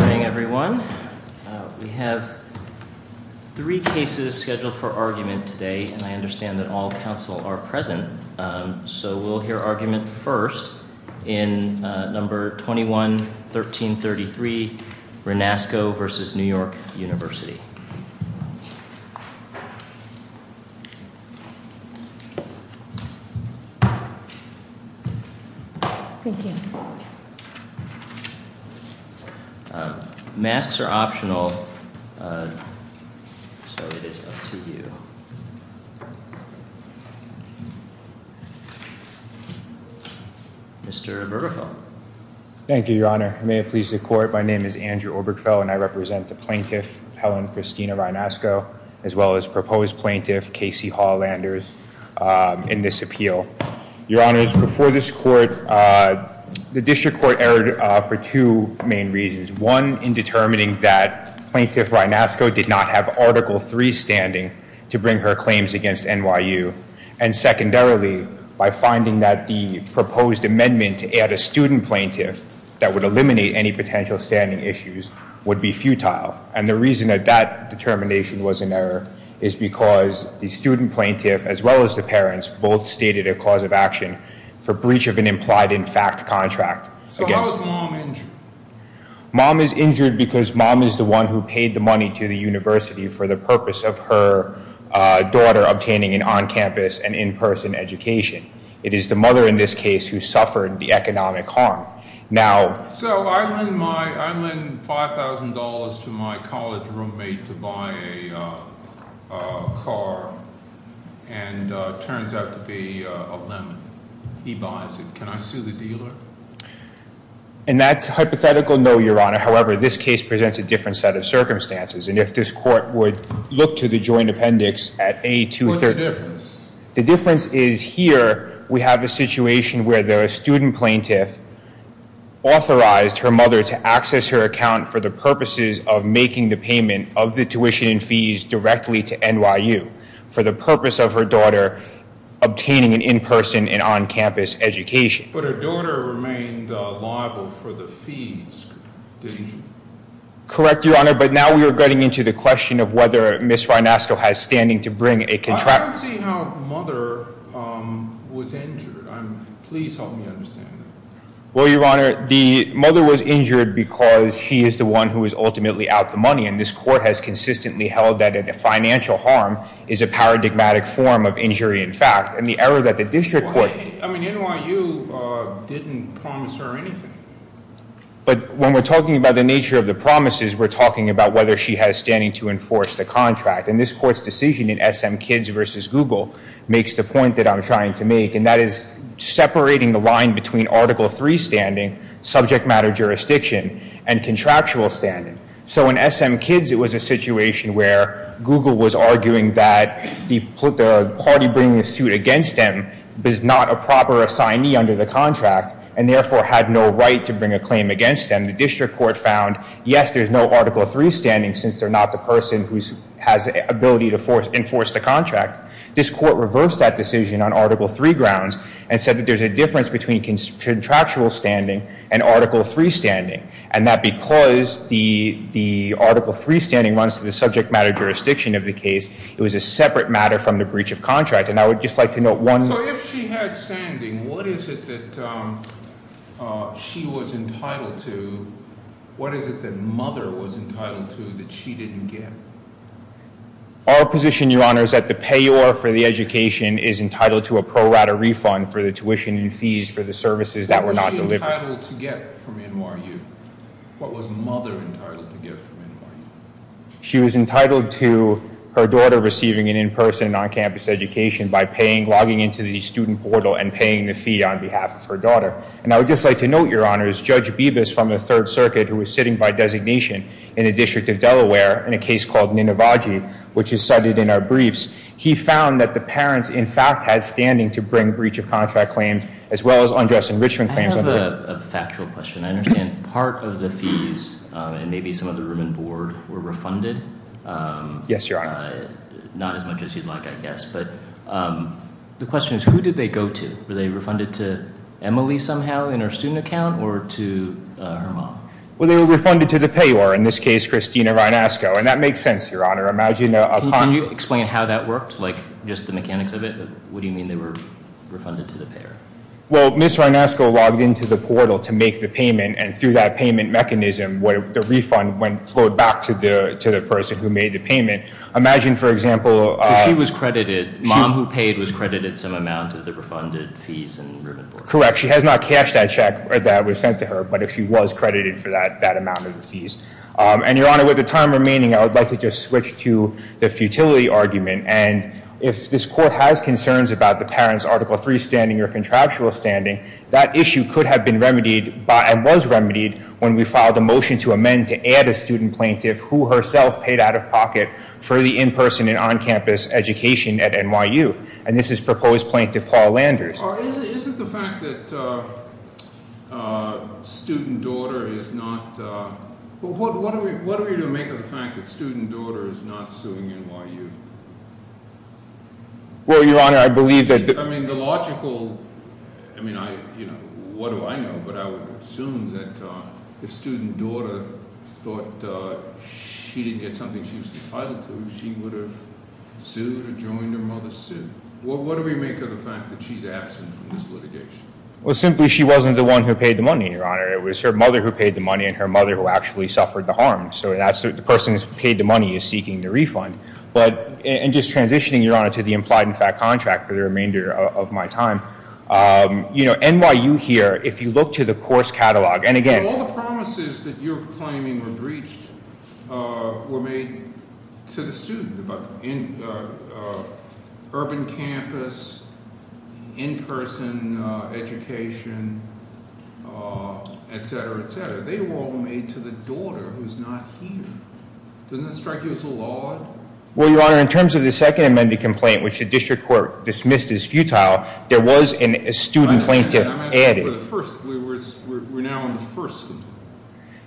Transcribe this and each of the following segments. Good morning, everyone. We have three cases scheduled for argument today, and I understand that all counsel are present. So we'll hear argument first in number 21-1333, Rynasko v. New York University. Thank you. Masks are optional. So it is up to you. Mr. Obergefell. Thank you, Your Honor. May it please the Court, my name is Andrew Obergefell, and I represent the plaintiff, Helen Christina Rynasko, as well as proposed plaintiff, Casey Hall-Landers, in this appeal. Your Honor, before this Court, the District Court erred for two main reasons. One, in determining that Plaintiff Rynasko did not have Article III standing to bring her claims against NYU. And secondarily, by finding that the proposed amendment to add a student plaintiff that would eliminate any potential standing issues would be futile. And the reason that that determination was in error is because the student plaintiff, as well as the parents, both stated a cause of action for breach of an implied-in-fact contract. So how is Mom injured? Mom is injured because Mom is the one who paid the money to the university for the purpose of her daughter obtaining an on-campus and in-person education. It is the mother in this case who suffered the economic harm. So I lend $5,000 to my college roommate to buy a car, and it turns out to be a lemon. He buys it. Can I sue the dealer? And that's a hypothetical no, Your Honor. However, this case presents a different set of circumstances. And if this Court would look to the joint appendix at A230. What's the difference? The difference is here we have a situation where the student plaintiff authorized her mother to access her account for the purposes of making the payment of the tuition and fees directly to NYU for the purpose of her daughter obtaining an in-person and on-campus education. But her daughter remained liable for the fees, didn't she? Correct, Your Honor. But now we are getting into the question of whether Ms. Rinasco has standing to bring a contract. I don't see how mother was injured. Please help me understand that. Well, Your Honor, the mother was injured because she is the one who is ultimately out the money. And this Court has consistently held that financial harm is a paradigmatic form of injury in fact. And the error that the district court I mean, NYU didn't promise her anything. But when we're talking about the nature of the promises, we're talking about whether she has standing to enforce the contract. And this Court's decision in SM Kids v. Google makes the point that I'm trying to make. And that is separating the line between Article III standing, subject matter jurisdiction, and contractual standing. So in SM Kids, it was a situation where Google was arguing that the party bringing the suit against them is not a proper assignee under the contract and therefore had no right to bring a claim against them. And the district court found, yes, there's no Article III standing since they're not the person who has the ability to enforce the contract. This Court reversed that decision on Article III grounds and said that there's a difference between contractual standing and Article III standing. And that because the Article III standing runs to the subject matter jurisdiction of the case, it was a separate matter from the breach of contract. And I would just like to note one So if she had standing, what is it that she was entitled to? What is it that mother was entitled to that she didn't get? Our position, Your Honor, is that the payor for the education is entitled to a pro rata refund for the tuition and fees for the services that were not delivered. What was she entitled to get from NYU? What was mother entitled to get from NYU? She was entitled to her daughter receiving an in-person and on-campus education by logging into the student portal and paying the fee on behalf of her daughter. And I would just like to note, Your Honor, as Judge Bibas from the Third Circuit, who was sitting by designation in the District of Delaware in a case called Ninavaji, which is cited in our briefs, he found that the parents, in fact, had standing to bring breach of contract claims as well as undress enrichment claims. I have a factual question. I understand part of the fees and maybe some of the room and board were refunded. Yes, Your Honor. Not as much as you'd like, I guess. But the question is, who did they go to? Were they refunded to Emily somehow in her student account or to her mom? Well, they were refunded to the payor, in this case, Christina Rinasco. And that makes sense, Your Honor. Can you explain how that worked, like just the mechanics of it? What do you mean they were refunded to the payor? Well, Ms. Rinasco logged into the portal to make the payment. And through that payment mechanism, the refund flowed back to the person who made the payment. Imagine, for example, So she was credited, mom who paid was credited some amount of the refunded fees and room and board. Correct. She has not cashed that check that was sent to her. But she was credited for that amount of the fees. And, Your Honor, with the time remaining, I would like to just switch to the futility argument. And if this court has concerns about the parent's Article III standing or contractual standing, that issue could have been remedied and was remedied when we filed a motion to amend to add a student plaintiff who herself paid out of pocket for the in-person and on-campus education at NYU. And this is proposed plaintiff Paul Landers. Isn't the fact that student daughter is not, what are we to make of the fact that student daughter is not suing NYU? Well, Your Honor, I believe that- I mean, the logical, I mean, what do I know? But I would assume that if student daughter thought she didn't get something she was entitled to, she would have sued or joined her mother's suit. What do we make of the fact that she's absent from this litigation? Well, simply she wasn't the one who paid the money, Your Honor. It was her mother who paid the money and her mother who actually suffered the harm. So the person who paid the money is seeking the refund. But in just transitioning, Your Honor, to the implied and fact contract for the remainder of my time, you know, NYU here, if you look to the course catalog, and again- The cases that you're claiming were breached were made to the student, about urban campus, in-person education, etc., etc. They were all made to the daughter who's not here. Doesn't that strike you as a little odd? Well, Your Honor, in terms of the Second Amendment complaint, which the district court dismissed as futile, there was a student plaintiff added. We're now in the first-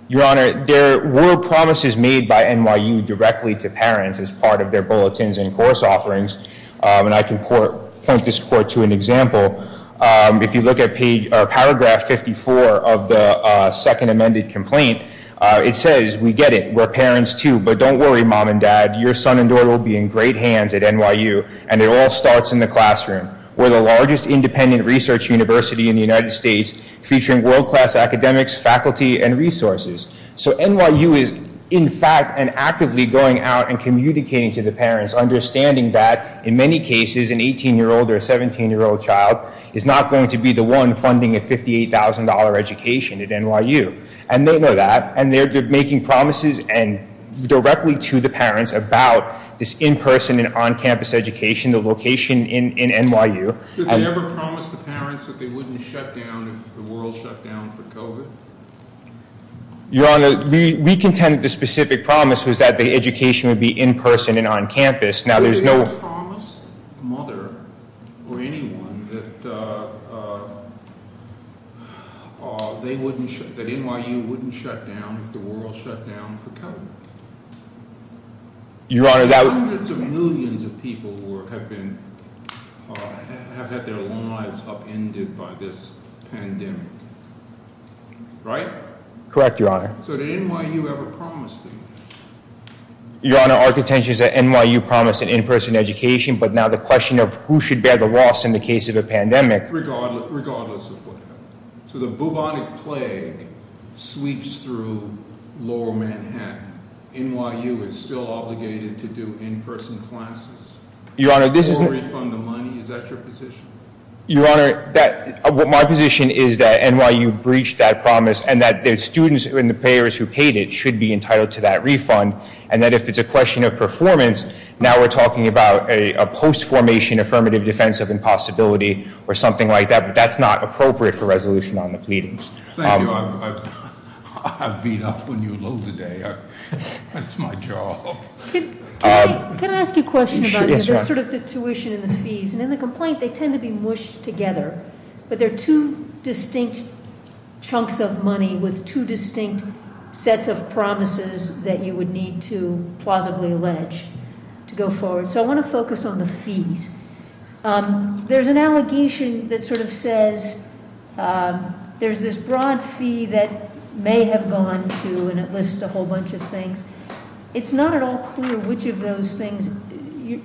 Your Honor, there were promises made by NYU directly to parents as part of their bulletins and course offerings, and I can point this court to an example. If you look at paragraph 54 of the Second Amendment complaint, it says, we get it, we're parents too, but don't worry, Mom and Dad, your son and daughter will be in great hands at NYU, and it all starts in the classroom. We're the largest independent research university in the United States, featuring world-class academics, faculty, and resources. So NYU is, in fact, and actively going out and communicating to the parents, understanding that, in many cases, an 18-year-old or a 17-year-old child is not going to be the one funding a $58,000 education at NYU. And they know that, and they're making promises directly to the parents about this in-person and on-campus education, the location in NYU. Did they ever promise the parents that they wouldn't shut down if the world shut down for COVID? Your Honor, we contend that the specific promise was that the education would be in-person and on-campus. Did they ever promise a mother or anyone that NYU wouldn't shut down if the world shut down for COVID? There are hundreds of millions of people who have had their lives upended by this pandemic, right? Correct, Your Honor. So did NYU ever promise them? Your Honor, our contention is that NYU promised an in-person education, but now the question of who should bear the loss in the case of a pandemic— Regardless of what happened. So the bubonic plague sweeps through lower Manhattan. NYU is still obligated to do in-person classes. Your Honor, this is— Or refund the money. Is that your position? Your Honor, my position is that NYU breached that promise, and that the students and the payers who paid it should be entitled to that refund, and that if it's a question of performance, now we're talking about a post-formation affirmative defense of impossibility or something like that, but that's not appropriate for resolution on the pleadings. Thank you. I beat up when you loathed the day. That's my job. Can I ask you a question about sort of the tuition and the fees? And in the complaint, they tend to be mushed together, but they're two distinct chunks of money with two distinct sets of promises that you would need to plausibly allege to go forward. So I want to focus on the fees. There's an allegation that sort of says there's this broad fee that may have gone to, and it lists a whole bunch of things. It's not at all clear which of those things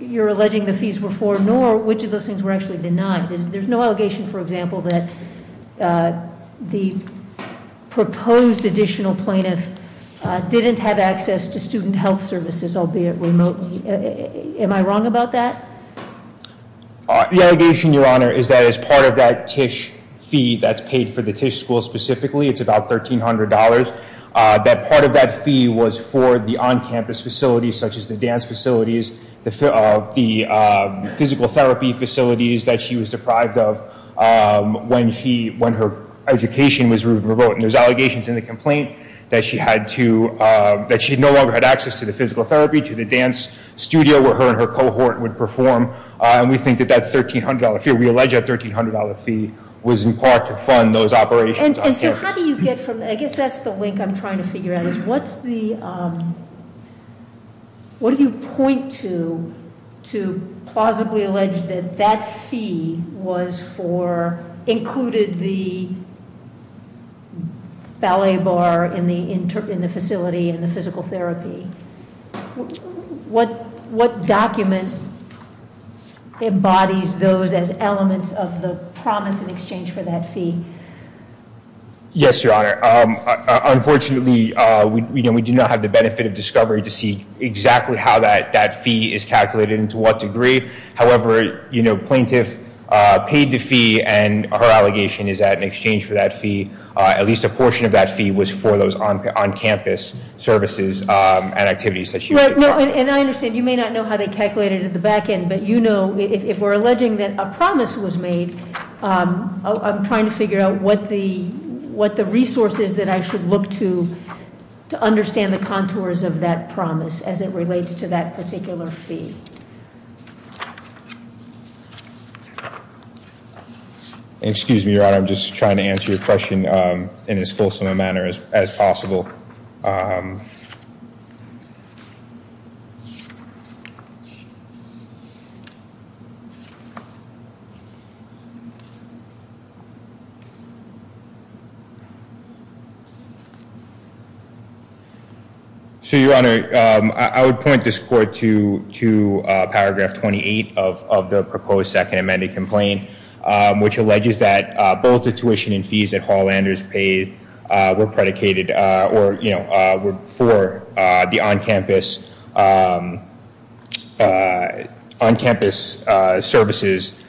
you're alleging the fees were for, nor which of those things were actually denied. There's no allegation, for example, that the proposed additional plaintiff didn't have access to student health services, albeit remotely. Am I wrong about that? The allegation, Your Honor, is that as part of that TISH fee that's paid for the TISH school specifically, it's about $1,300, that part of that fee was for the on-campus facilities, such as the dance facilities, the physical therapy facilities that she was deprived of when her education was revoked. And there's allegations in the complaint that she no longer had access to the physical therapy, to the dance studio where her and her cohort would perform, and we think that that $1,300 fee, we allege that $1,300 fee was in part to fund those operations on campus. And so how do you get from, I guess that's the link I'm trying to figure out is what's the, what do you point to, to plausibly allege that that fee was for, included the ballet bar in the facility and the physical therapy? What document embodies those as elements of the promise in exchange for that fee? Yes, Your Honor. Unfortunately, we do not have the benefit of discovery to see exactly how that fee is calculated and to what degree. However, plaintiff paid the fee and her allegation is that in exchange for that fee, at least a portion of that fee was for those on campus services and activities that she- Right, no, and I understand. You may not know how they calculated it at the back end, but you know, if we're alleging that a promise was made, I'm trying to figure out what the resources that I should look to to understand the contours of that promise as it relates to that particular fee. Excuse me, Your Honor. I'm just trying to answer your question in as fulsome a manner as possible. So, Your Honor, I would point this court to paragraph 28 of the proposed second amended complaint, which alleges that both the tuition and fees that Hall-Landers paid were predicated or were for the on-campus services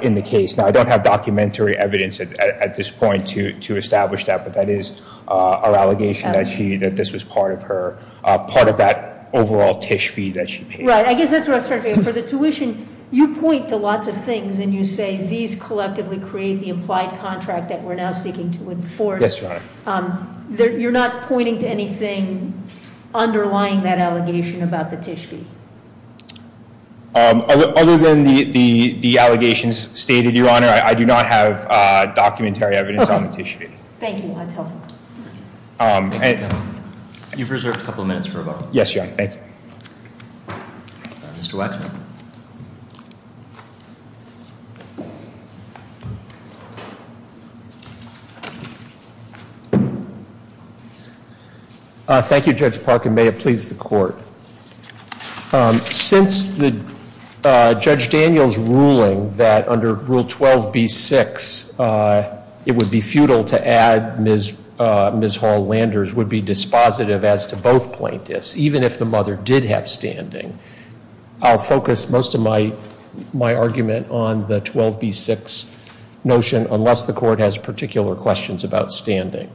in the case. Now, I don't have documentary evidence at this point to establish that, but that is our allegation that this was part of that overall TISH fee that she paid. Right, I guess that's where I started. For the tuition, you point to lots of things and you say these collectively create the applied contract that we're now seeking to enforce. Yes, Your Honor. You're not pointing to anything underlying that allegation about the TISH fee? Other than the allegations stated, Your Honor, I do not have documentary evidence on the TISH fee. Thank you. That's helpful. You've reserved a couple of minutes for rebuttal. Yes, Your Honor. Thank you. Mr. Waxman. Thank you, Judge Parkin. May it please the court. Since Judge Daniel's ruling that under Rule 12b-6, it would be futile to add Ms. Hall-Landers would be dispositive as to both plaintiffs, even if the mother did have standing, I'll focus most of my argument on the 12b-6 notion unless the court has particular questions about standing.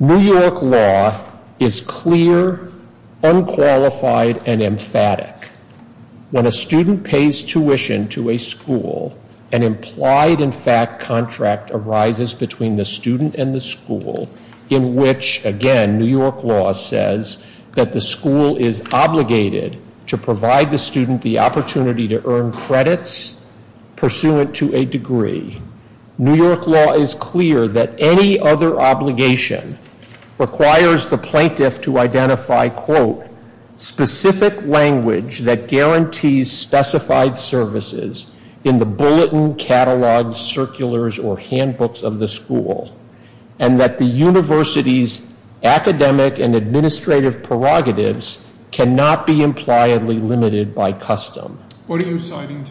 New York law is clear, unqualified, and emphatic. When a student pays tuition to a school, an implied in fact contract arises between the student and the school in which, again, New York law says that the school is obligated to provide the student the opportunity to earn credits pursuant to a degree. New York law is clear that any other obligation requires the plaintiff to identify, quote, specific language that guarantees specified services in the bulletin, catalogs, circulars, or handbooks of the school, and that the university's academic and administrative prerogatives cannot be impliedly limited by custom. What are you citing?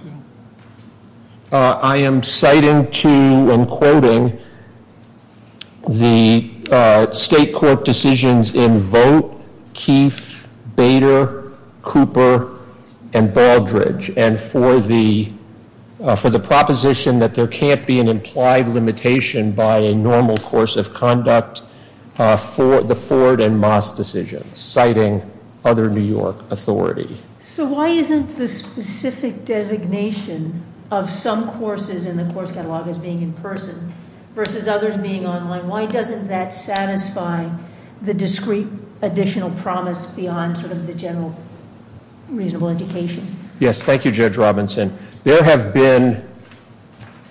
I am citing to, and quoting, the state court decisions in Vogt, Keefe, Bader, Cooper, and Baldridge, and for the proposition that there can't be an implied limitation by a normal course of conduct for the Ford and Moss decisions, citing other New York authority. So why isn't the specific designation of some courses in the course catalog as being in person versus others being online? Why doesn't that satisfy the discrete additional promise beyond sort of the general reasonable indication? Yes, thank you, Judge Robinson. There have been,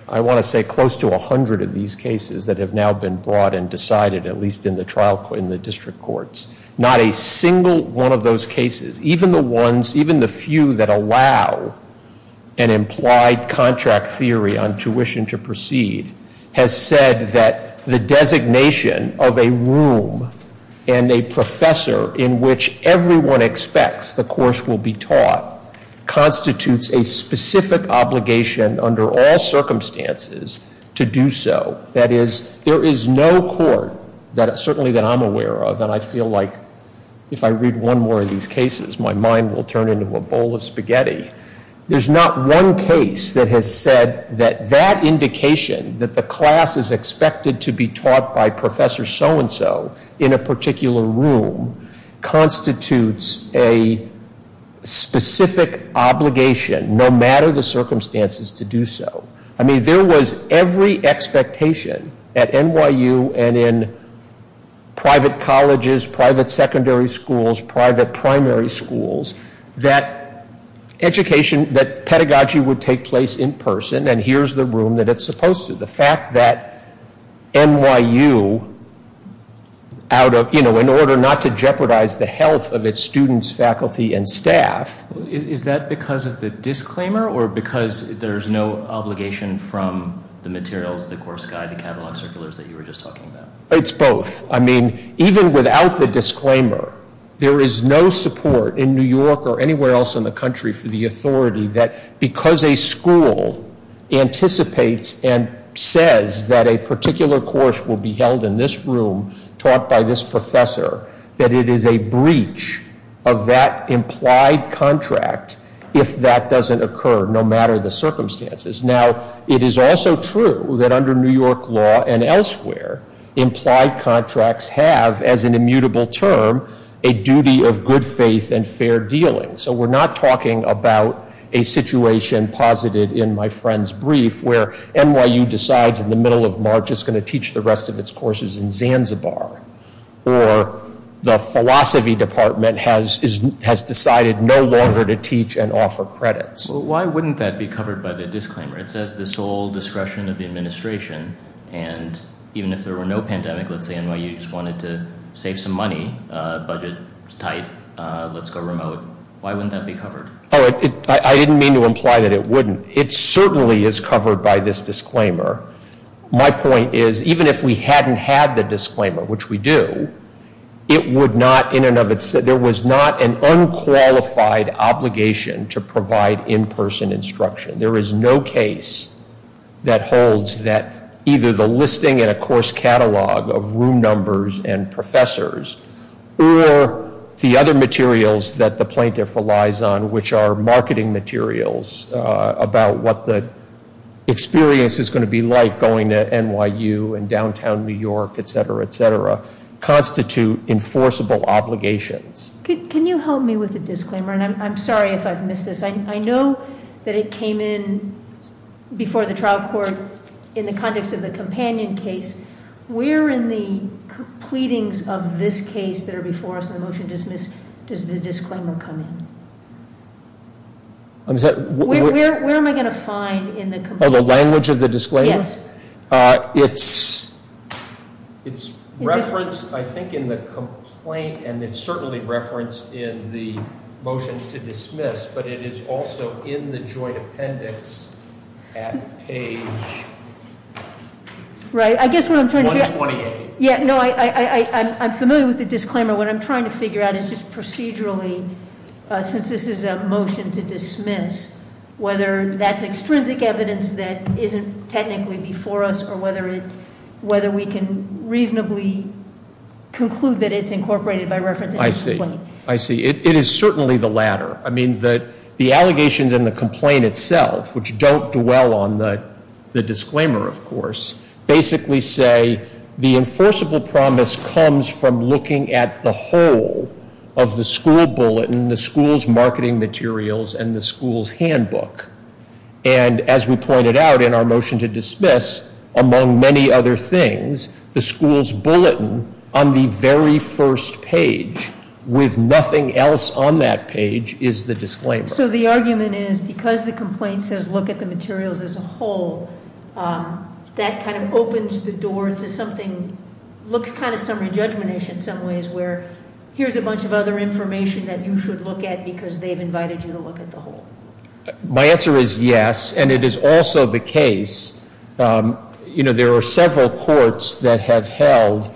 I want to say, close to 100 of these cases that have now been brought and decided, at least in the district courts. Not a single one of those cases, even the ones, even the few that allow an implied contract theory on tuition to proceed, has said that the designation of a room and a professor in which everyone expects the course will be taught constitutes a specific obligation under all circumstances to do so. That is, there is no court, certainly that I'm aware of, and I feel like if I read one more of these cases, my mind will turn into a bowl of spaghetti. There's not one case that has said that that indication, that the class is expected to be taught by Professor So-and-so in a particular room, constitutes a specific obligation, no matter the circumstances, to do so. I mean, there was every expectation at NYU and in private colleges, private secondary schools, private primary schools, that education, that pedagogy would take place in person, and here's the room that it's supposed to. The fact that NYU, in order not to jeopardize the health of its students, faculty, and staff... Is that because of the disclaimer, or because there's no obligation from the materials, the course guide, the catalog circulars that you were just talking about? It's both. I mean, even without the disclaimer, there is no support in New York or anywhere else in the country for the authority that because a school anticipates and says that a particular course will be held in this room, taught by this professor, that it is a breach of that implied contract if that doesn't occur, no matter the circumstances. Now, it is also true that under New York law and elsewhere, implied contracts have, as an immutable term, a duty of good faith and fair dealing. So we're not talking about a situation posited in my friend's brief, where NYU decides in the middle of March it's going to teach the rest of its courses in Zanzibar, or the philosophy department has decided no longer to teach and offer credits. Why wouldn't that be covered by the disclaimer? It says the sole discretion of the administration, and even if there were no pandemic, let's say NYU just wanted to save some money, budget was tight, let's go remote. Why wouldn't that be covered? I didn't mean to imply that it wouldn't. It certainly is covered by this disclaimer. My point is even if we hadn't had the disclaimer, which we do, it would not, in and of itself, there was not an unqualified obligation to provide in-person instruction. There is no case that holds that either the listing in a course catalog of room numbers and professors or the other materials that the plaintiff relies on, which are marketing materials about what the experience is going to be like going to NYU and downtown New York, etc., etc., constitute enforceable obligations. Can you help me with the disclaimer? I'm sorry if I've missed this. I know that it came in before the trial court in the context of the companion case. Where in the pleadings of this case that are before us in the motion to dismiss does the disclaimer come in? Where am I going to find in the complaint? Oh, the language of the disclaimer? Yes. It's referenced, I think, in the complaint, and it's certainly referenced in the motion to dismiss, but it is also in the joint appendix at page- Right, I guess what I'm trying to figure out- 128. Yeah, no, I'm familiar with the disclaimer. What I'm trying to figure out is just procedurally, since this is a motion to dismiss, whether that's extrinsic evidence that isn't technically before us or whether we can reasonably conclude that it's incorporated by reference in the complaint. I see. I see. It is certainly the latter. I mean, the allegations in the complaint itself, which don't dwell on the disclaimer, of course, basically say the enforceable promise comes from looking at the whole of the school bulletin, the school's marketing materials, and the school's handbook. And as we pointed out in our motion to dismiss, among many other things, the school's bulletin on the very first page, with nothing else on that page, is the disclaimer. So the argument is because the complaint says look at the materials as a whole, that kind of opens the door to something that looks kind of summary judgment-ish in some ways, where here's a bunch of other information that you should look at because they've invited you to look at the whole. My answer is yes, and it is also the case. You know, there are several courts that have held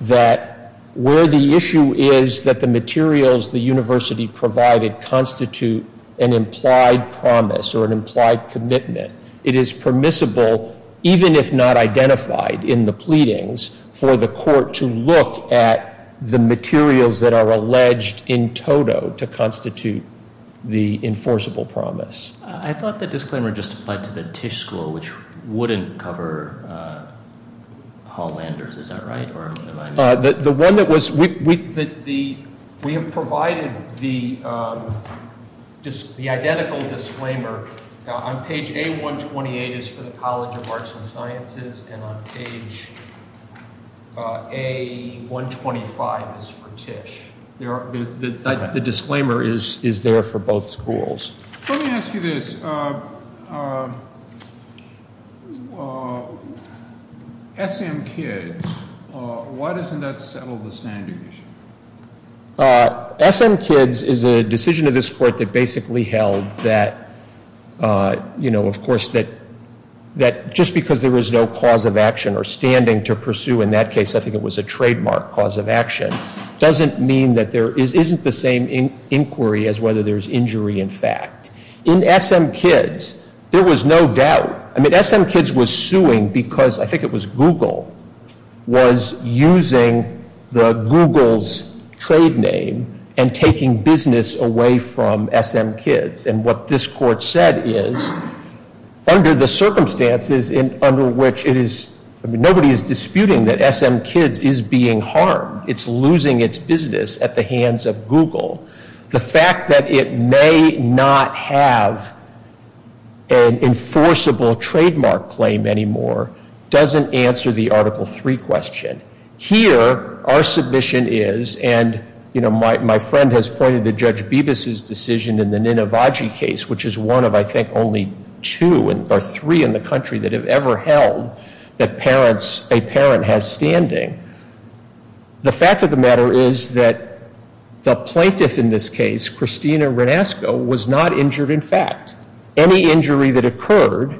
that where the issue is that the materials the university provided constitute an implied promise or an implied commitment, it is permissible, even if not identified in the pleadings, for the court to look at the materials that are alleged in toto to constitute the enforceable promise. I thought the disclaimer just applied to the Tisch School, which wouldn't cover Hall-Landers, is that right? The one that was, we have provided the identical disclaimer. On page A128 is for the College of Arts and Sciences, and on page A125 is for Tisch. The disclaimer is there for both schools. Let me ask you this. SM Kids, why doesn't that settle the standards? SM Kids is a decision of this court that basically held that, you know, of course, that just because there was no cause of action or standing to pursue, in that case, I think it was a trademark cause of action, doesn't mean that there isn't the same inquiry as whether there's injury in fact. In SM Kids, there was no doubt. I mean, SM Kids was suing because, I think it was Google, was using the Google's trade name and taking business away from SM Kids. And what this court said is, under the circumstances under which it is, I mean, nobody is disputing that SM Kids is being harmed. It's losing its business at the hands of Google. The fact that it may not have an enforceable trademark claim anymore doesn't answer the Article III question. Here, our submission is, and, you know, my friend has pointed to Judge Bibas' decision in the Ninavaji case, which is one of, I think, only two or three in the country that have ever held that a parent has standing. The fact of the matter is that the plaintiff in this case, Christina Renasco, was not injured in fact. Any injury that occurred,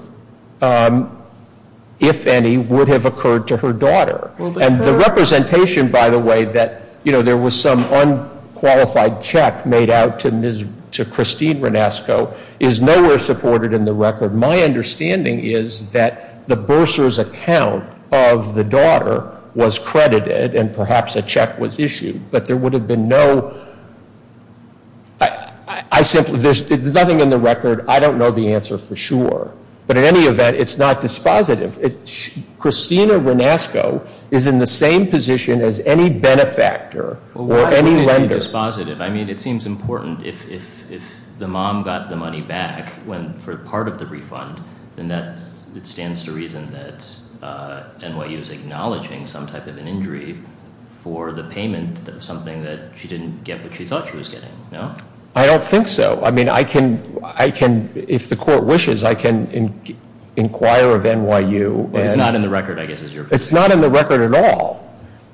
if any, would have occurred to her daughter. And the representation, by the way, that, you know, there was some unqualified check made out to Christine Renasco is nowhere supported in the record. My understanding is that the bursar's account of the daughter was credited and perhaps a check was issued. But there would have been no, I simply, there's nothing in the record, I don't know the answer for sure. But in any event, it's not dispositive. Christina Renasco is in the same position as any benefactor or any lender. Why would it be dispositive? I mean, it seems important if the mom got the money back for part of the refund, then that stands to reason that NYU is acknowledging some type of an injury for the payment of something that she didn't get what she thought she was getting, no? I don't think so. I mean, I can, if the court wishes, I can inquire of NYU. Well, it's not in the record, I guess, is your opinion. It's not in the record at all.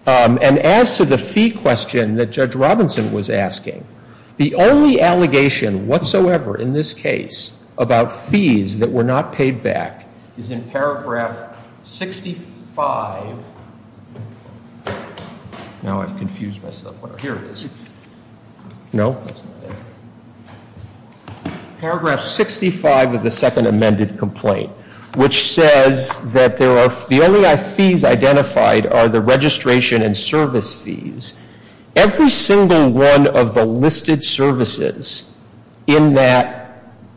And as to the fee question that Judge Robinson was asking, the only allegation whatsoever in this case about fees that were not paid back is in paragraph 65. Now I've confused myself. Here it is. No, that's not it. Paragraph 65 of the second amended complaint, which says that the only fees identified are the registration and service fees. Every single one of the listed services in that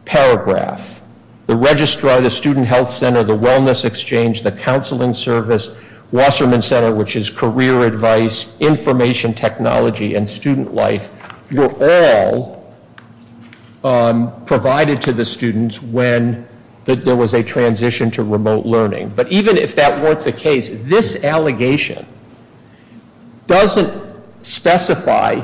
paragraph, the registrar, the student health center, the wellness exchange, the counseling service, Wasserman Center, which is career advice, information technology, and student life, were all provided to the students when there was a transition to remote learning. But even if that weren't the case, this allegation doesn't specify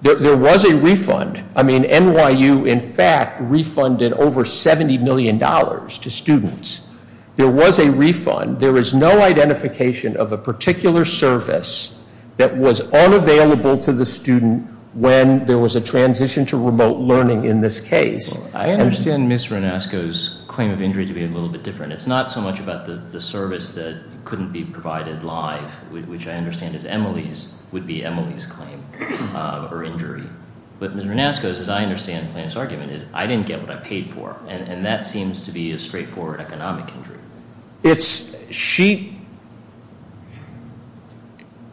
that there was a refund. I mean, NYU, in fact, refunded over $70 million to students. There was a refund. There was no identification of a particular service that was unavailable to the student when there was a transition to remote learning in this case. I understand Ms. Renasco's claim of injury to be a little bit different. It's not so much about the service that couldn't be provided live, which I understand is Emily's, would be Emily's claim of her injury. But Ms. Renasco's, as I understand the plaintiff's argument, is I didn't get what I paid for, and that seems to be a straightforward economic injury.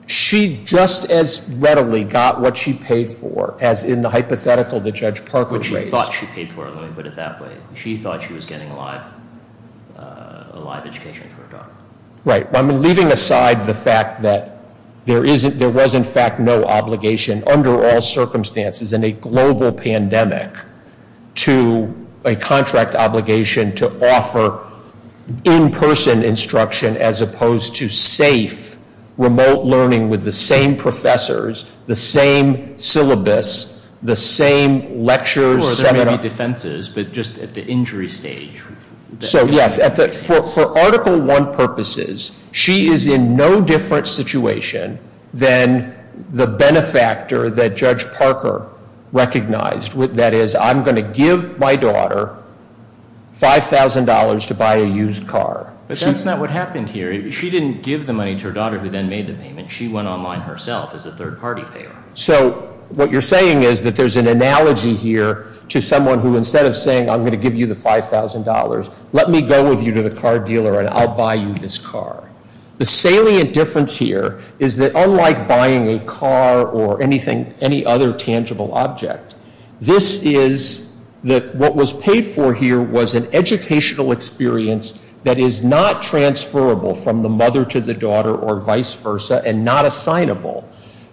She just as readily got what she paid for as in the hypothetical that Judge Parker raised. But she thought she paid for it. Let me put it that way. She thought she was getting a live education for her daughter. Right. Well, I'm leaving aside the fact that there was, in fact, no obligation under all circumstances in a global pandemic to a contract obligation to offer in-person instruction as opposed to safe remote learning with the same professors, the same syllabus, the same lectures. Sure, there may be defenses, but just at the injury stage. So, yes. For Article I purposes, she is in no different situation than the benefactor that Judge Parker recognized. That is, I'm going to give my daughter $5,000 to buy a used car. But that's not what happened here. She didn't give the money to her daughter who then made the payment. She went online herself as a third-party payer. So what you're saying is that there's an analogy here to someone who instead of saying, I'm going to give you the $5,000, let me go with you to the car dealer and I'll buy you this car. The salient difference here is that unlike buying a car or anything, any other tangible object, this is that what was paid for here was an educational experience that is not transferable from the mother to the daughter or vice versa and not assignable.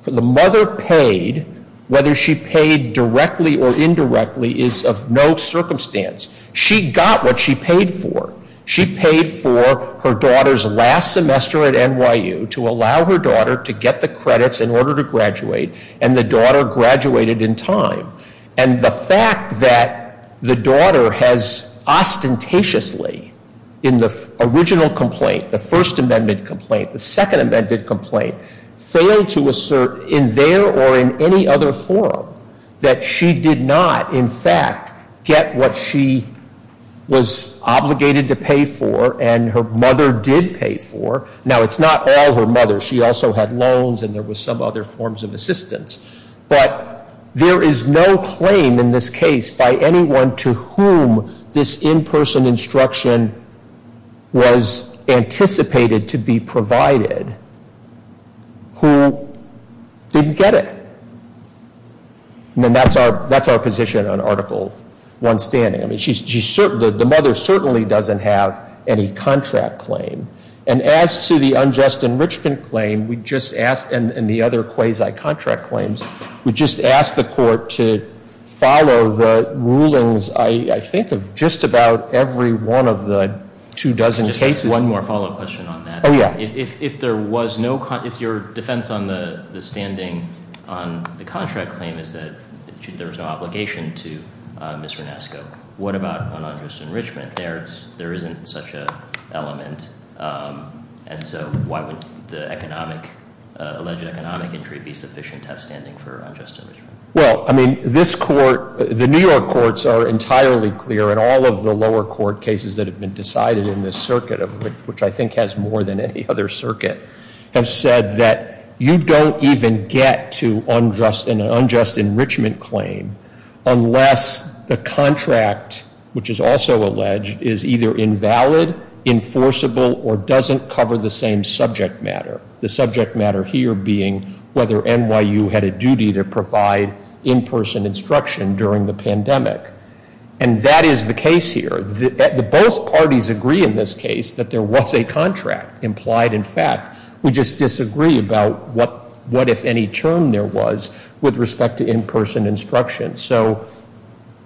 The mother paid, whether she paid directly or indirectly, is of no circumstance. She got what she paid for. She paid for her daughter's last semester at NYU to allow her daughter to get the credits in order to graduate, and the daughter graduated in time. And the fact that the daughter has ostentatiously, in the original complaint, the First Amendment complaint, the Second Amendment complaint, failed to assert in there or in any other forum that she did not, in fact, get what she was obligated to pay for and her mother did pay for. Now, it's not all her mother. She also had loans and there were some other forms of assistance. But there is no claim in this case by anyone to whom this in-person instruction was anticipated to be provided who didn't get it. And that's our position on Article I standing. I mean, the mother certainly doesn't have any contract claim. And as to the unjust enrichment claim, we just asked, and the other quasi-contract claims, we just asked the court to follow the rulings, I think, of just about every one of the two dozen cases. Just one more follow-up question on that. Oh, yeah. If your defense on the standing on the contract claim is that there was no obligation to Ms. Renasco, what about on unjust enrichment? There isn't such an element. And so why would the alleged economic injury be sufficient to have standing for unjust enrichment? Well, I mean, this court, the New York courts are entirely clear, and all of the lower court cases that have been decided in this circuit, which I think has more than any other circuit, have said that you don't even get to an unjust enrichment claim unless the contract, which is also alleged, is either invalid, enforceable, or doesn't cover the same subject matter. The subject matter here being whether NYU had a duty to provide in-person instruction during the pandemic. And that is the case here. Both parties agree in this case that there was a contract implied. In fact, we just disagree about what if any term there was with respect to in-person instruction. So,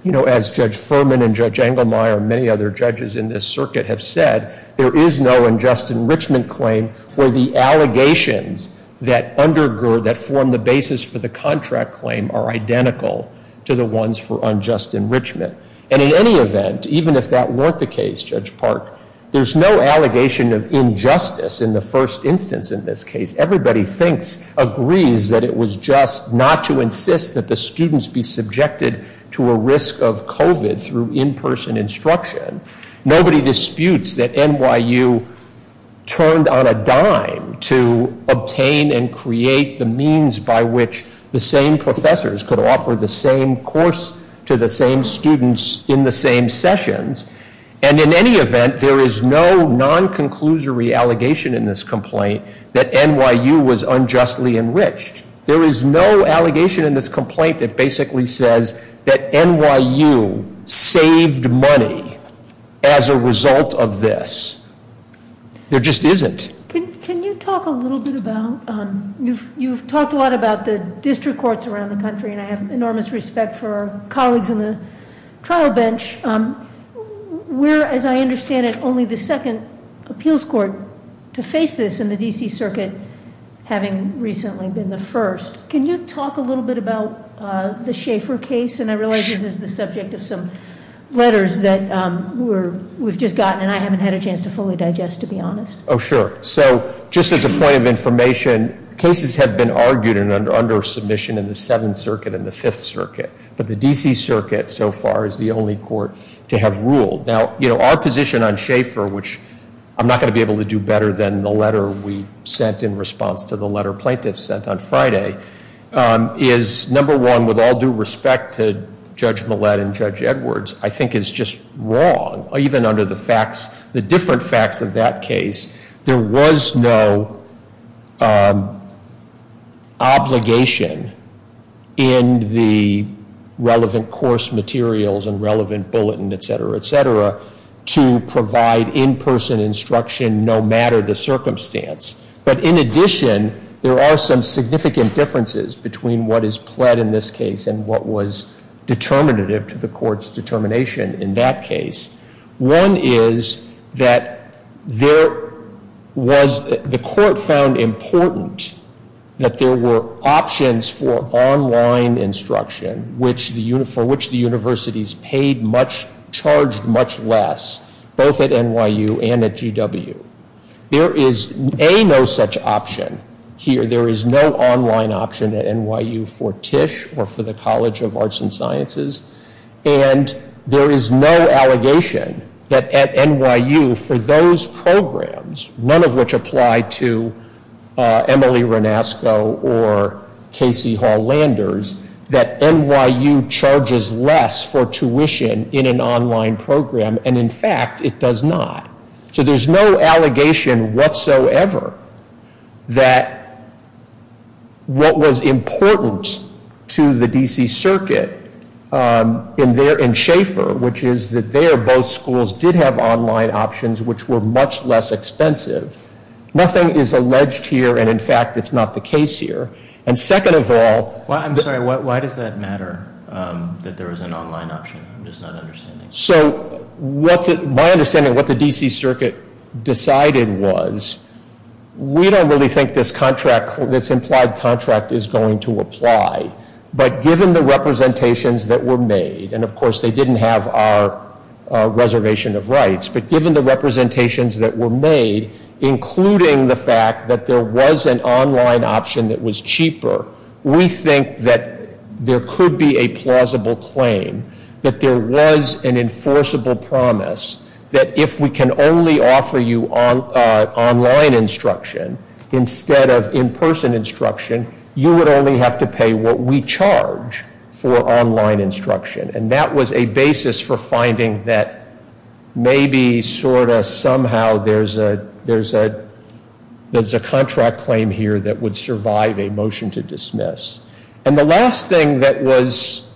you know, as Judge Furman and Judge Engelmeyer and many other judges in this circuit have said, there is no unjust enrichment claim where the allegations that undergo, that form the basis for the contract claim are identical to the ones for unjust enrichment. And in any event, even if that weren't the case, Judge Park, there's no allegation of injustice in the first instance in this case. Everybody agrees that it was just not to insist that the students be subjected to a risk of COVID through in-person instruction. Nobody disputes that NYU turned on a dime to obtain and create the means by which the same professors could offer the same course to the same students in the same sessions. And in any event, there is no non-conclusory allegation in this complaint that NYU was unjustly enriched. There is no allegation in this complaint that basically says that NYU saved money as a result of this. There just isn't. Can you talk a little bit about, you've talked a lot about the district courts around the country, and I have enormous respect for our colleagues on the trial bench. We're, as I understand it, only the second appeals court to face this in the DC circuit, having recently been the first. Can you talk a little bit about the Schaefer case? And I realize this is the subject of some letters that we've just gotten, and I haven't had a chance to fully digest, to be honest. Oh, sure. So, just as a point of information, cases have been argued under submission in the Seventh Circuit and the Fifth Circuit. But the DC Circuit, so far, is the only court to have ruled. Now, our position on Schaefer, which I'm not going to be able to do better than the letter we sent in response to the letter plaintiffs sent on Friday, is, number one, with all due respect to Judge Millett and Judge Edwards, I think is just wrong, even under the facts, the different facts of that case, there was no obligation in the relevant course materials and relevant bulletin, et cetera, et cetera, to provide in-person instruction no matter the circumstance. But in addition, there are some significant differences between what is pled in this case and what was determinative to the court's determination in that case. One is that there was, the court found important that there were options for online instruction, for which the universities paid much, charged much less, both at NYU and at GW. There is a no such option here. There is no online option at NYU for Tisch or for the College of Arts and Sciences. And there is no allegation that at NYU for those programs, none of which apply to Emily Renasco or Casey Hall Landers, that NYU charges less for tuition in an online program. And in fact, it does not. So there's no allegation whatsoever that what was important to the D.C. Circuit in Schaefer, which is that there both schools did have online options which were much less expensive. Nothing is alleged here, and in fact, it's not the case here. And second of all- I'm sorry, why does that matter, that there was an online option? I'm just not understanding. So my understanding of what the D.C. Circuit decided was, we don't really think this implied contract is going to apply. But given the representations that were made, and of course they didn't have our reservation of rights, but given the representations that were made, including the fact that there was an online option that was cheaper, we think that there could be a plausible claim that there was an enforceable promise that if we can only offer you online instruction instead of in-person instruction, you would only have to pay what we charge for online instruction. And that was a basis for finding that maybe, sort of, somehow, there's a contract claim here that would survive a motion to dismiss. And the last thing that was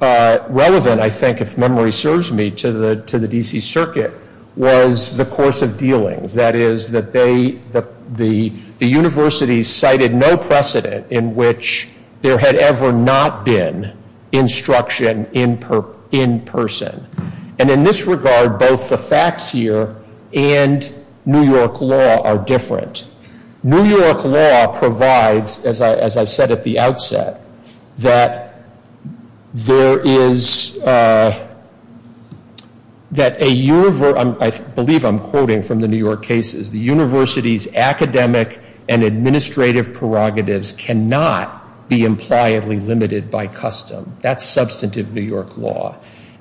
relevant, I think, if memory serves me, to the D.C. Circuit was the course of dealings. That is, the universities cited no precedent in which there had ever not been instruction in person. And in this regard, both the facts here and New York law are different. New York law provides, as I said at the outset, that there is, that a, I believe I'm quoting from the New York cases, the university's academic and administrative prerogatives cannot be impliedly limited by custom. That's substantive New York law.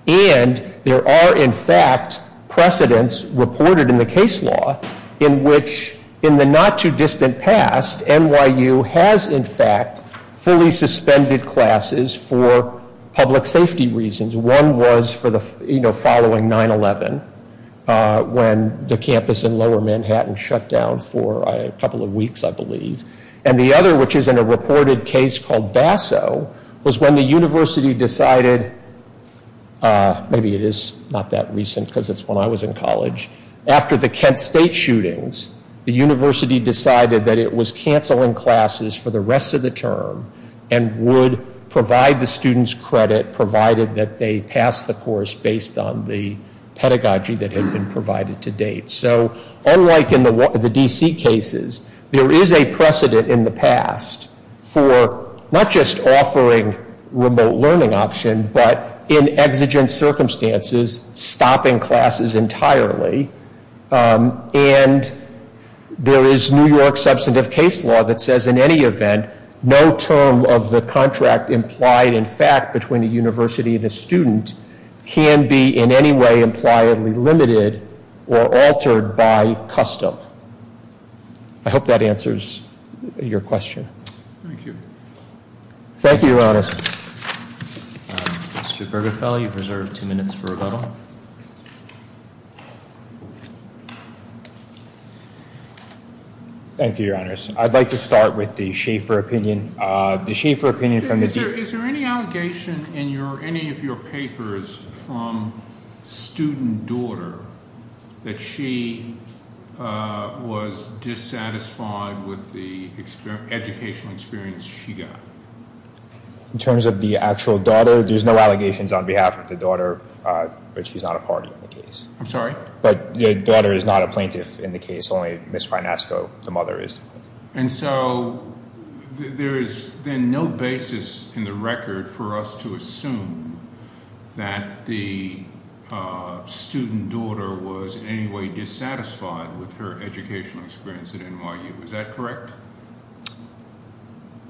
And there are, in fact, precedents reported in the case law in which, in the not-too-distant past, NYU has, in fact, fully suspended classes for public safety reasons. One was for the following 9-11, when the campus in lower Manhattan shut down for a couple of weeks, I believe. And the other, which is in a reported case called Basso, was when the university decided, maybe it is not that recent because it's when I was in college, after the Kent State shootings, the university decided that it was canceling classes for the rest of the term and would provide the students credit, provided that they pass the course based on the pedagogy that had been provided to date. So unlike in the D.C. cases, there is a precedent in the past for not just offering remote learning option, but in exigent circumstances, stopping classes entirely. And there is New York substantive case law that says in any event, no term of the contract implied in fact between a university and a student can be in any way impliedly limited or altered by custom. I hope that answers your question. Thank you. Thank you, Your Honors. Mr. Bergefell, you've reserved two minutes for rebuttal. Thank you, Your Honors. I'd like to start with the Schaefer opinion. Is there any allegation in any of your papers from student daughter that she was dissatisfied with the educational experience she got? In terms of the actual daughter, there's no allegations on behalf of the daughter, but she's not a part of the case. I'm sorry? But the daughter is not a plaintiff in the case. Only Ms. Finesco, the mother, is. And so there is then no basis in the record for us to assume that the student daughter was in any way dissatisfied with her educational experience at NYU. Is that correct?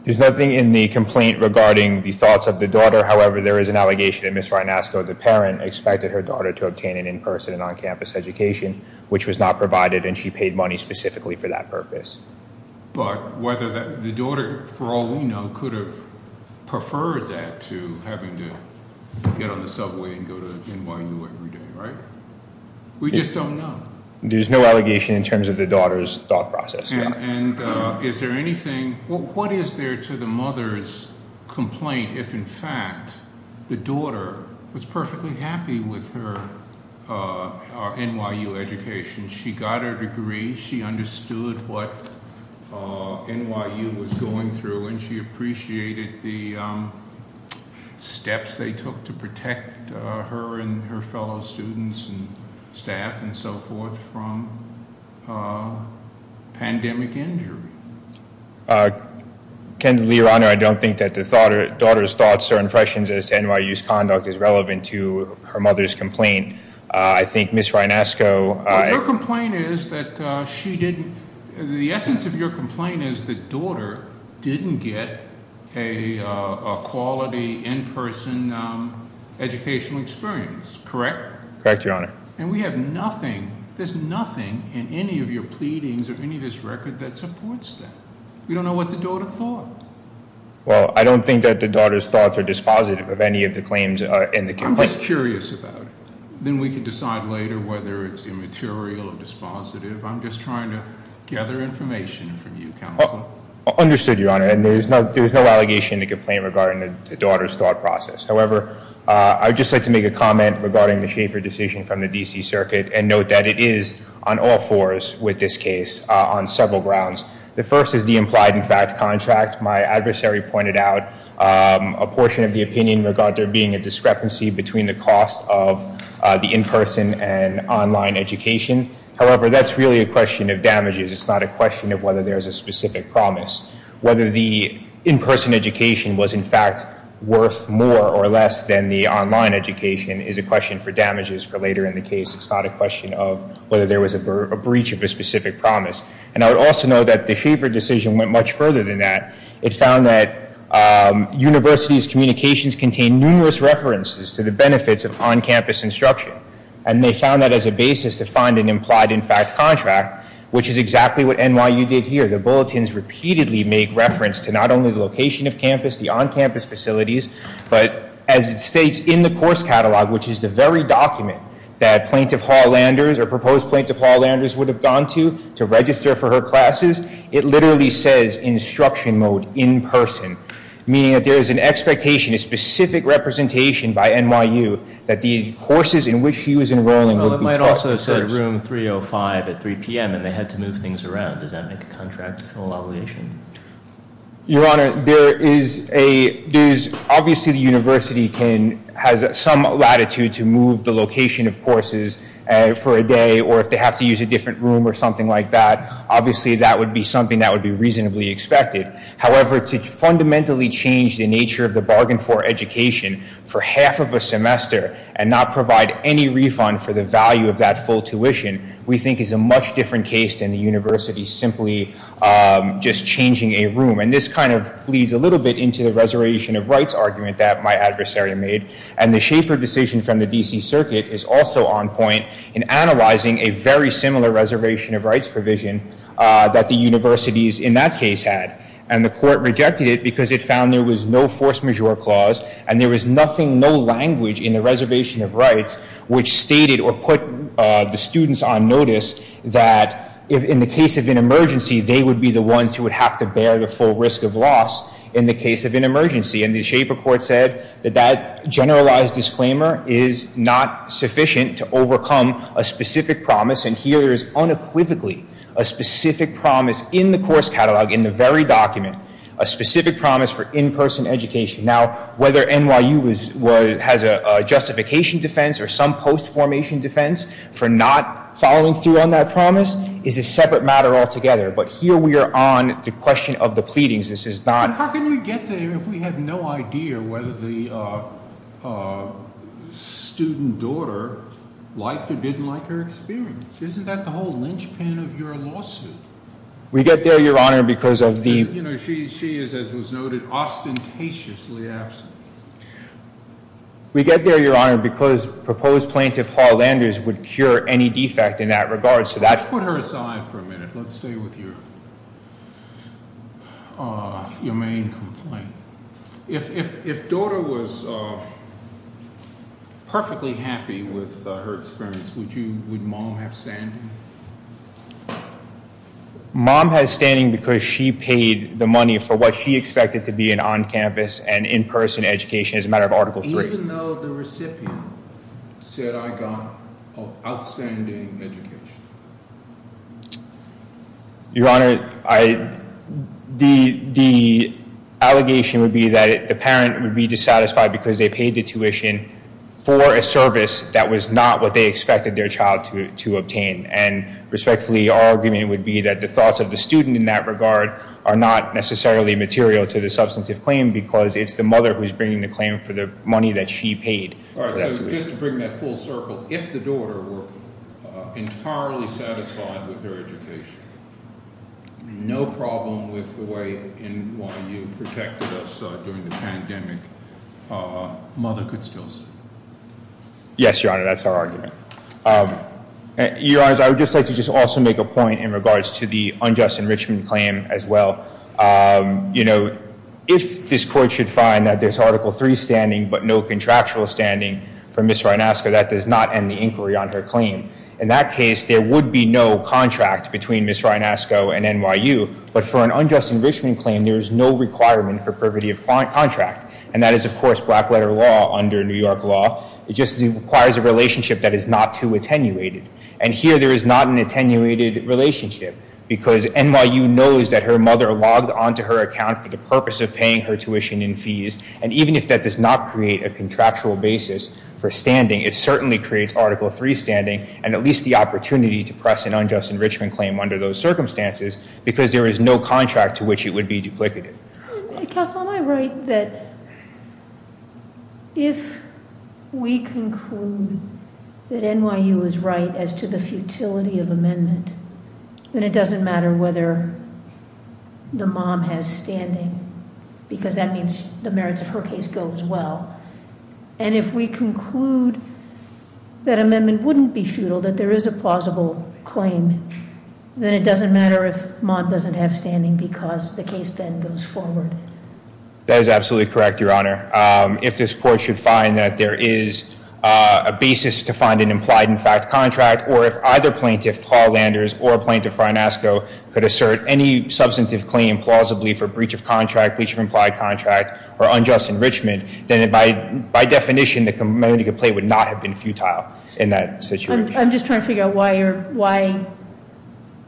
There's nothing in the complaint regarding the thoughts of the daughter. However, there is an allegation that Ms. Finesco, the parent, expected her daughter to obtain an in-person and on-campus education, which was not provided, and she paid money specifically for that purpose. But the daughter, for all we know, could have preferred that to having to get on the subway and go to NYU every day, right? We just don't know. There's no allegation in terms of the daughter's thought process. What is there to the mother's complaint if, in fact, the daughter was perfectly happy with her NYU education? She got her degree. She understood what NYU was going through, and she appreciated the steps they took to protect her and her fellow students and staff and so forth from pandemic injury. Candidly, Your Honor, I don't think that the daughter's thoughts or impressions as to NYU's conduct is relevant to her mother's complaint. I think Ms. Finesco- Her complaint is that she didn't, the essence of your complaint is the daughter didn't get a quality in-person educational experience, correct? Correct, Your Honor. And we have nothing, there's nothing in any of your pleadings or any of this record that supports that. We don't know what the daughter thought. Well, I don't think that the daughter's thoughts are dispositive of any of the claims in the complaint. I'm just curious about it. Then we can decide later whether it's immaterial or dispositive. I'm just trying to gather information from you, Counsel. Understood, Your Honor. And there's no allegation in the complaint regarding the daughter's thought process. However, I would just like to make a comment regarding the Schaefer decision from the D.C. Circuit and note that it is on all fours with this case on several grounds. The first is the implied in fact contract. My adversary pointed out a portion of the opinion regarding there being a discrepancy between the cost of the in-person and online education. However, that's really a question of damages. It's not a question of whether there's a specific promise. Whether the in-person education was in fact worth more or less than the online education is a question for damages for later in the case. It's not a question of whether there was a breach of a specific promise. And I would also note that the Schaefer decision went much further than that. It found that universities' communications contained numerous references to the benefits of on-campus instruction. And they found that as a basis to find an implied in fact contract, which is exactly what NYU did here. The bulletins repeatedly make reference to not only the location of campus, the on-campus facilities, but as it states in the course catalog, which is the very document that Plaintiff Hall-Landers, or proposed Plaintiff Hall-Landers would have gone to to register for her classes, it literally says instruction mode in person, meaning that there is an expectation, a specific representation by NYU that the courses in which she was enrolling would be- Well, it might also have said room 305 at 3 p.m. and they had to move things around. Does that make a contractual obligation? Your Honor, there is a- Obviously the university has some latitude to move the location of courses for a day, or if they have to use a different room or something like that, obviously that would be something that would be reasonably expected. However, to fundamentally change the nature of the bargain for education for half of a semester and not provide any refund for the value of that full tuition, we think is a much different case than the university simply just changing a room. And this kind of bleeds a little bit into the reservation of rights argument that my adversary made. And the Schaefer decision from the D.C. Circuit is also on point in analyzing a very similar reservation of rights provision that the universities in that case had. And the court rejected it because it found there was no force majeure clause and there was nothing, no language in the reservation of rights which stated or put the students on notice that in the case of an emergency, they would be the ones who would have to bear the full risk of loss in the case of an emergency. And the Schaefer court said that that generalized disclaimer is not sufficient to overcome a specific promise. And here is unequivocally a specific promise in the course catalog, in the very document, a specific promise for in-person education. Now, whether NYU has a justification defense or some post-formation defense for not following through on that promise is a separate matter altogether. But here we are on the question of the pleadings. This is not— How can we get there if we have no idea whether the student daughter liked or didn't like her experience? Isn't that the whole linchpin of your lawsuit? We get there, Your Honor, because of the— You know, she is, as was noted, ostentatiously absent. We get there, Your Honor, because proposed plaintiff Hall Landers would cure any defect in that regard. So that's— Let's put her aside for a minute. Let's stay with your main complaint. If daughter was perfectly happy with her experience, would mom have standing? Mom has standing because she paid the money for what she expected to be an on-campus and in-person education as a matter of Article III. Even though the recipient said, I got an outstanding education? Your Honor, the allegation would be that the parent would be dissatisfied because they paid the tuition for a service that was not what they expected their child to obtain. And respectfully, our argument would be that the thoughts of the student in that regard are not necessarily material to the substantive claim because it's the mother who's bringing the claim for the money that she paid. All right, so just to bring that full circle, if the daughter were entirely satisfied with their education, no problem with the way NYU protected us during the pandemic, mother could still sue? Yes, Your Honor, that's our argument. Your Honors, I would just like to just also make a point in regards to the unjust enrichment claim as well. You know, if this Court should find that there's Article III standing but no contractual standing for Ms. Rynaska, that does not end the inquiry on her claim. In that case, there would be no contract between Ms. Rynaska and NYU, but for an unjust enrichment claim, there is no requirement for privity of contract. And that is, of course, black letter law under New York law. It just requires a relationship that is not too attenuated. And here, there is not an attenuated relationship because NYU knows that her mother logged onto her account for the purpose of paying her tuition and fees. And even if that does not create a contractual basis for standing, it certainly creates Article III standing and at least the opportunity to press an unjust enrichment claim under those circumstances because there is no contract to which it would be duplicative. Counsel, am I right that if we conclude that NYU is right as to the futility of amendment, then it doesn't matter whether the mom has standing because that means the merits of her case goes well. And if we conclude that amendment wouldn't be futile, that there is a plausible claim, then it doesn't matter if mom doesn't have standing because the case then goes forward. That is absolutely correct, Your Honor. If this court should find that there is a basis to find an implied in fact contract or if either plaintiff, Paul Landers, or Plaintiff Rynaska, could assert any substantive claim plausibly for breach of contract, breach of implied contract, or unjust enrichment, then by definition, the community complaint would not have been futile in that situation. I'm just trying to figure out why,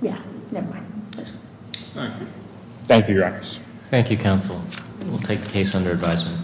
yeah, never mind. Thank you. Thank you, Your Honor. Thank you, Counsel. We'll take the case under advisement.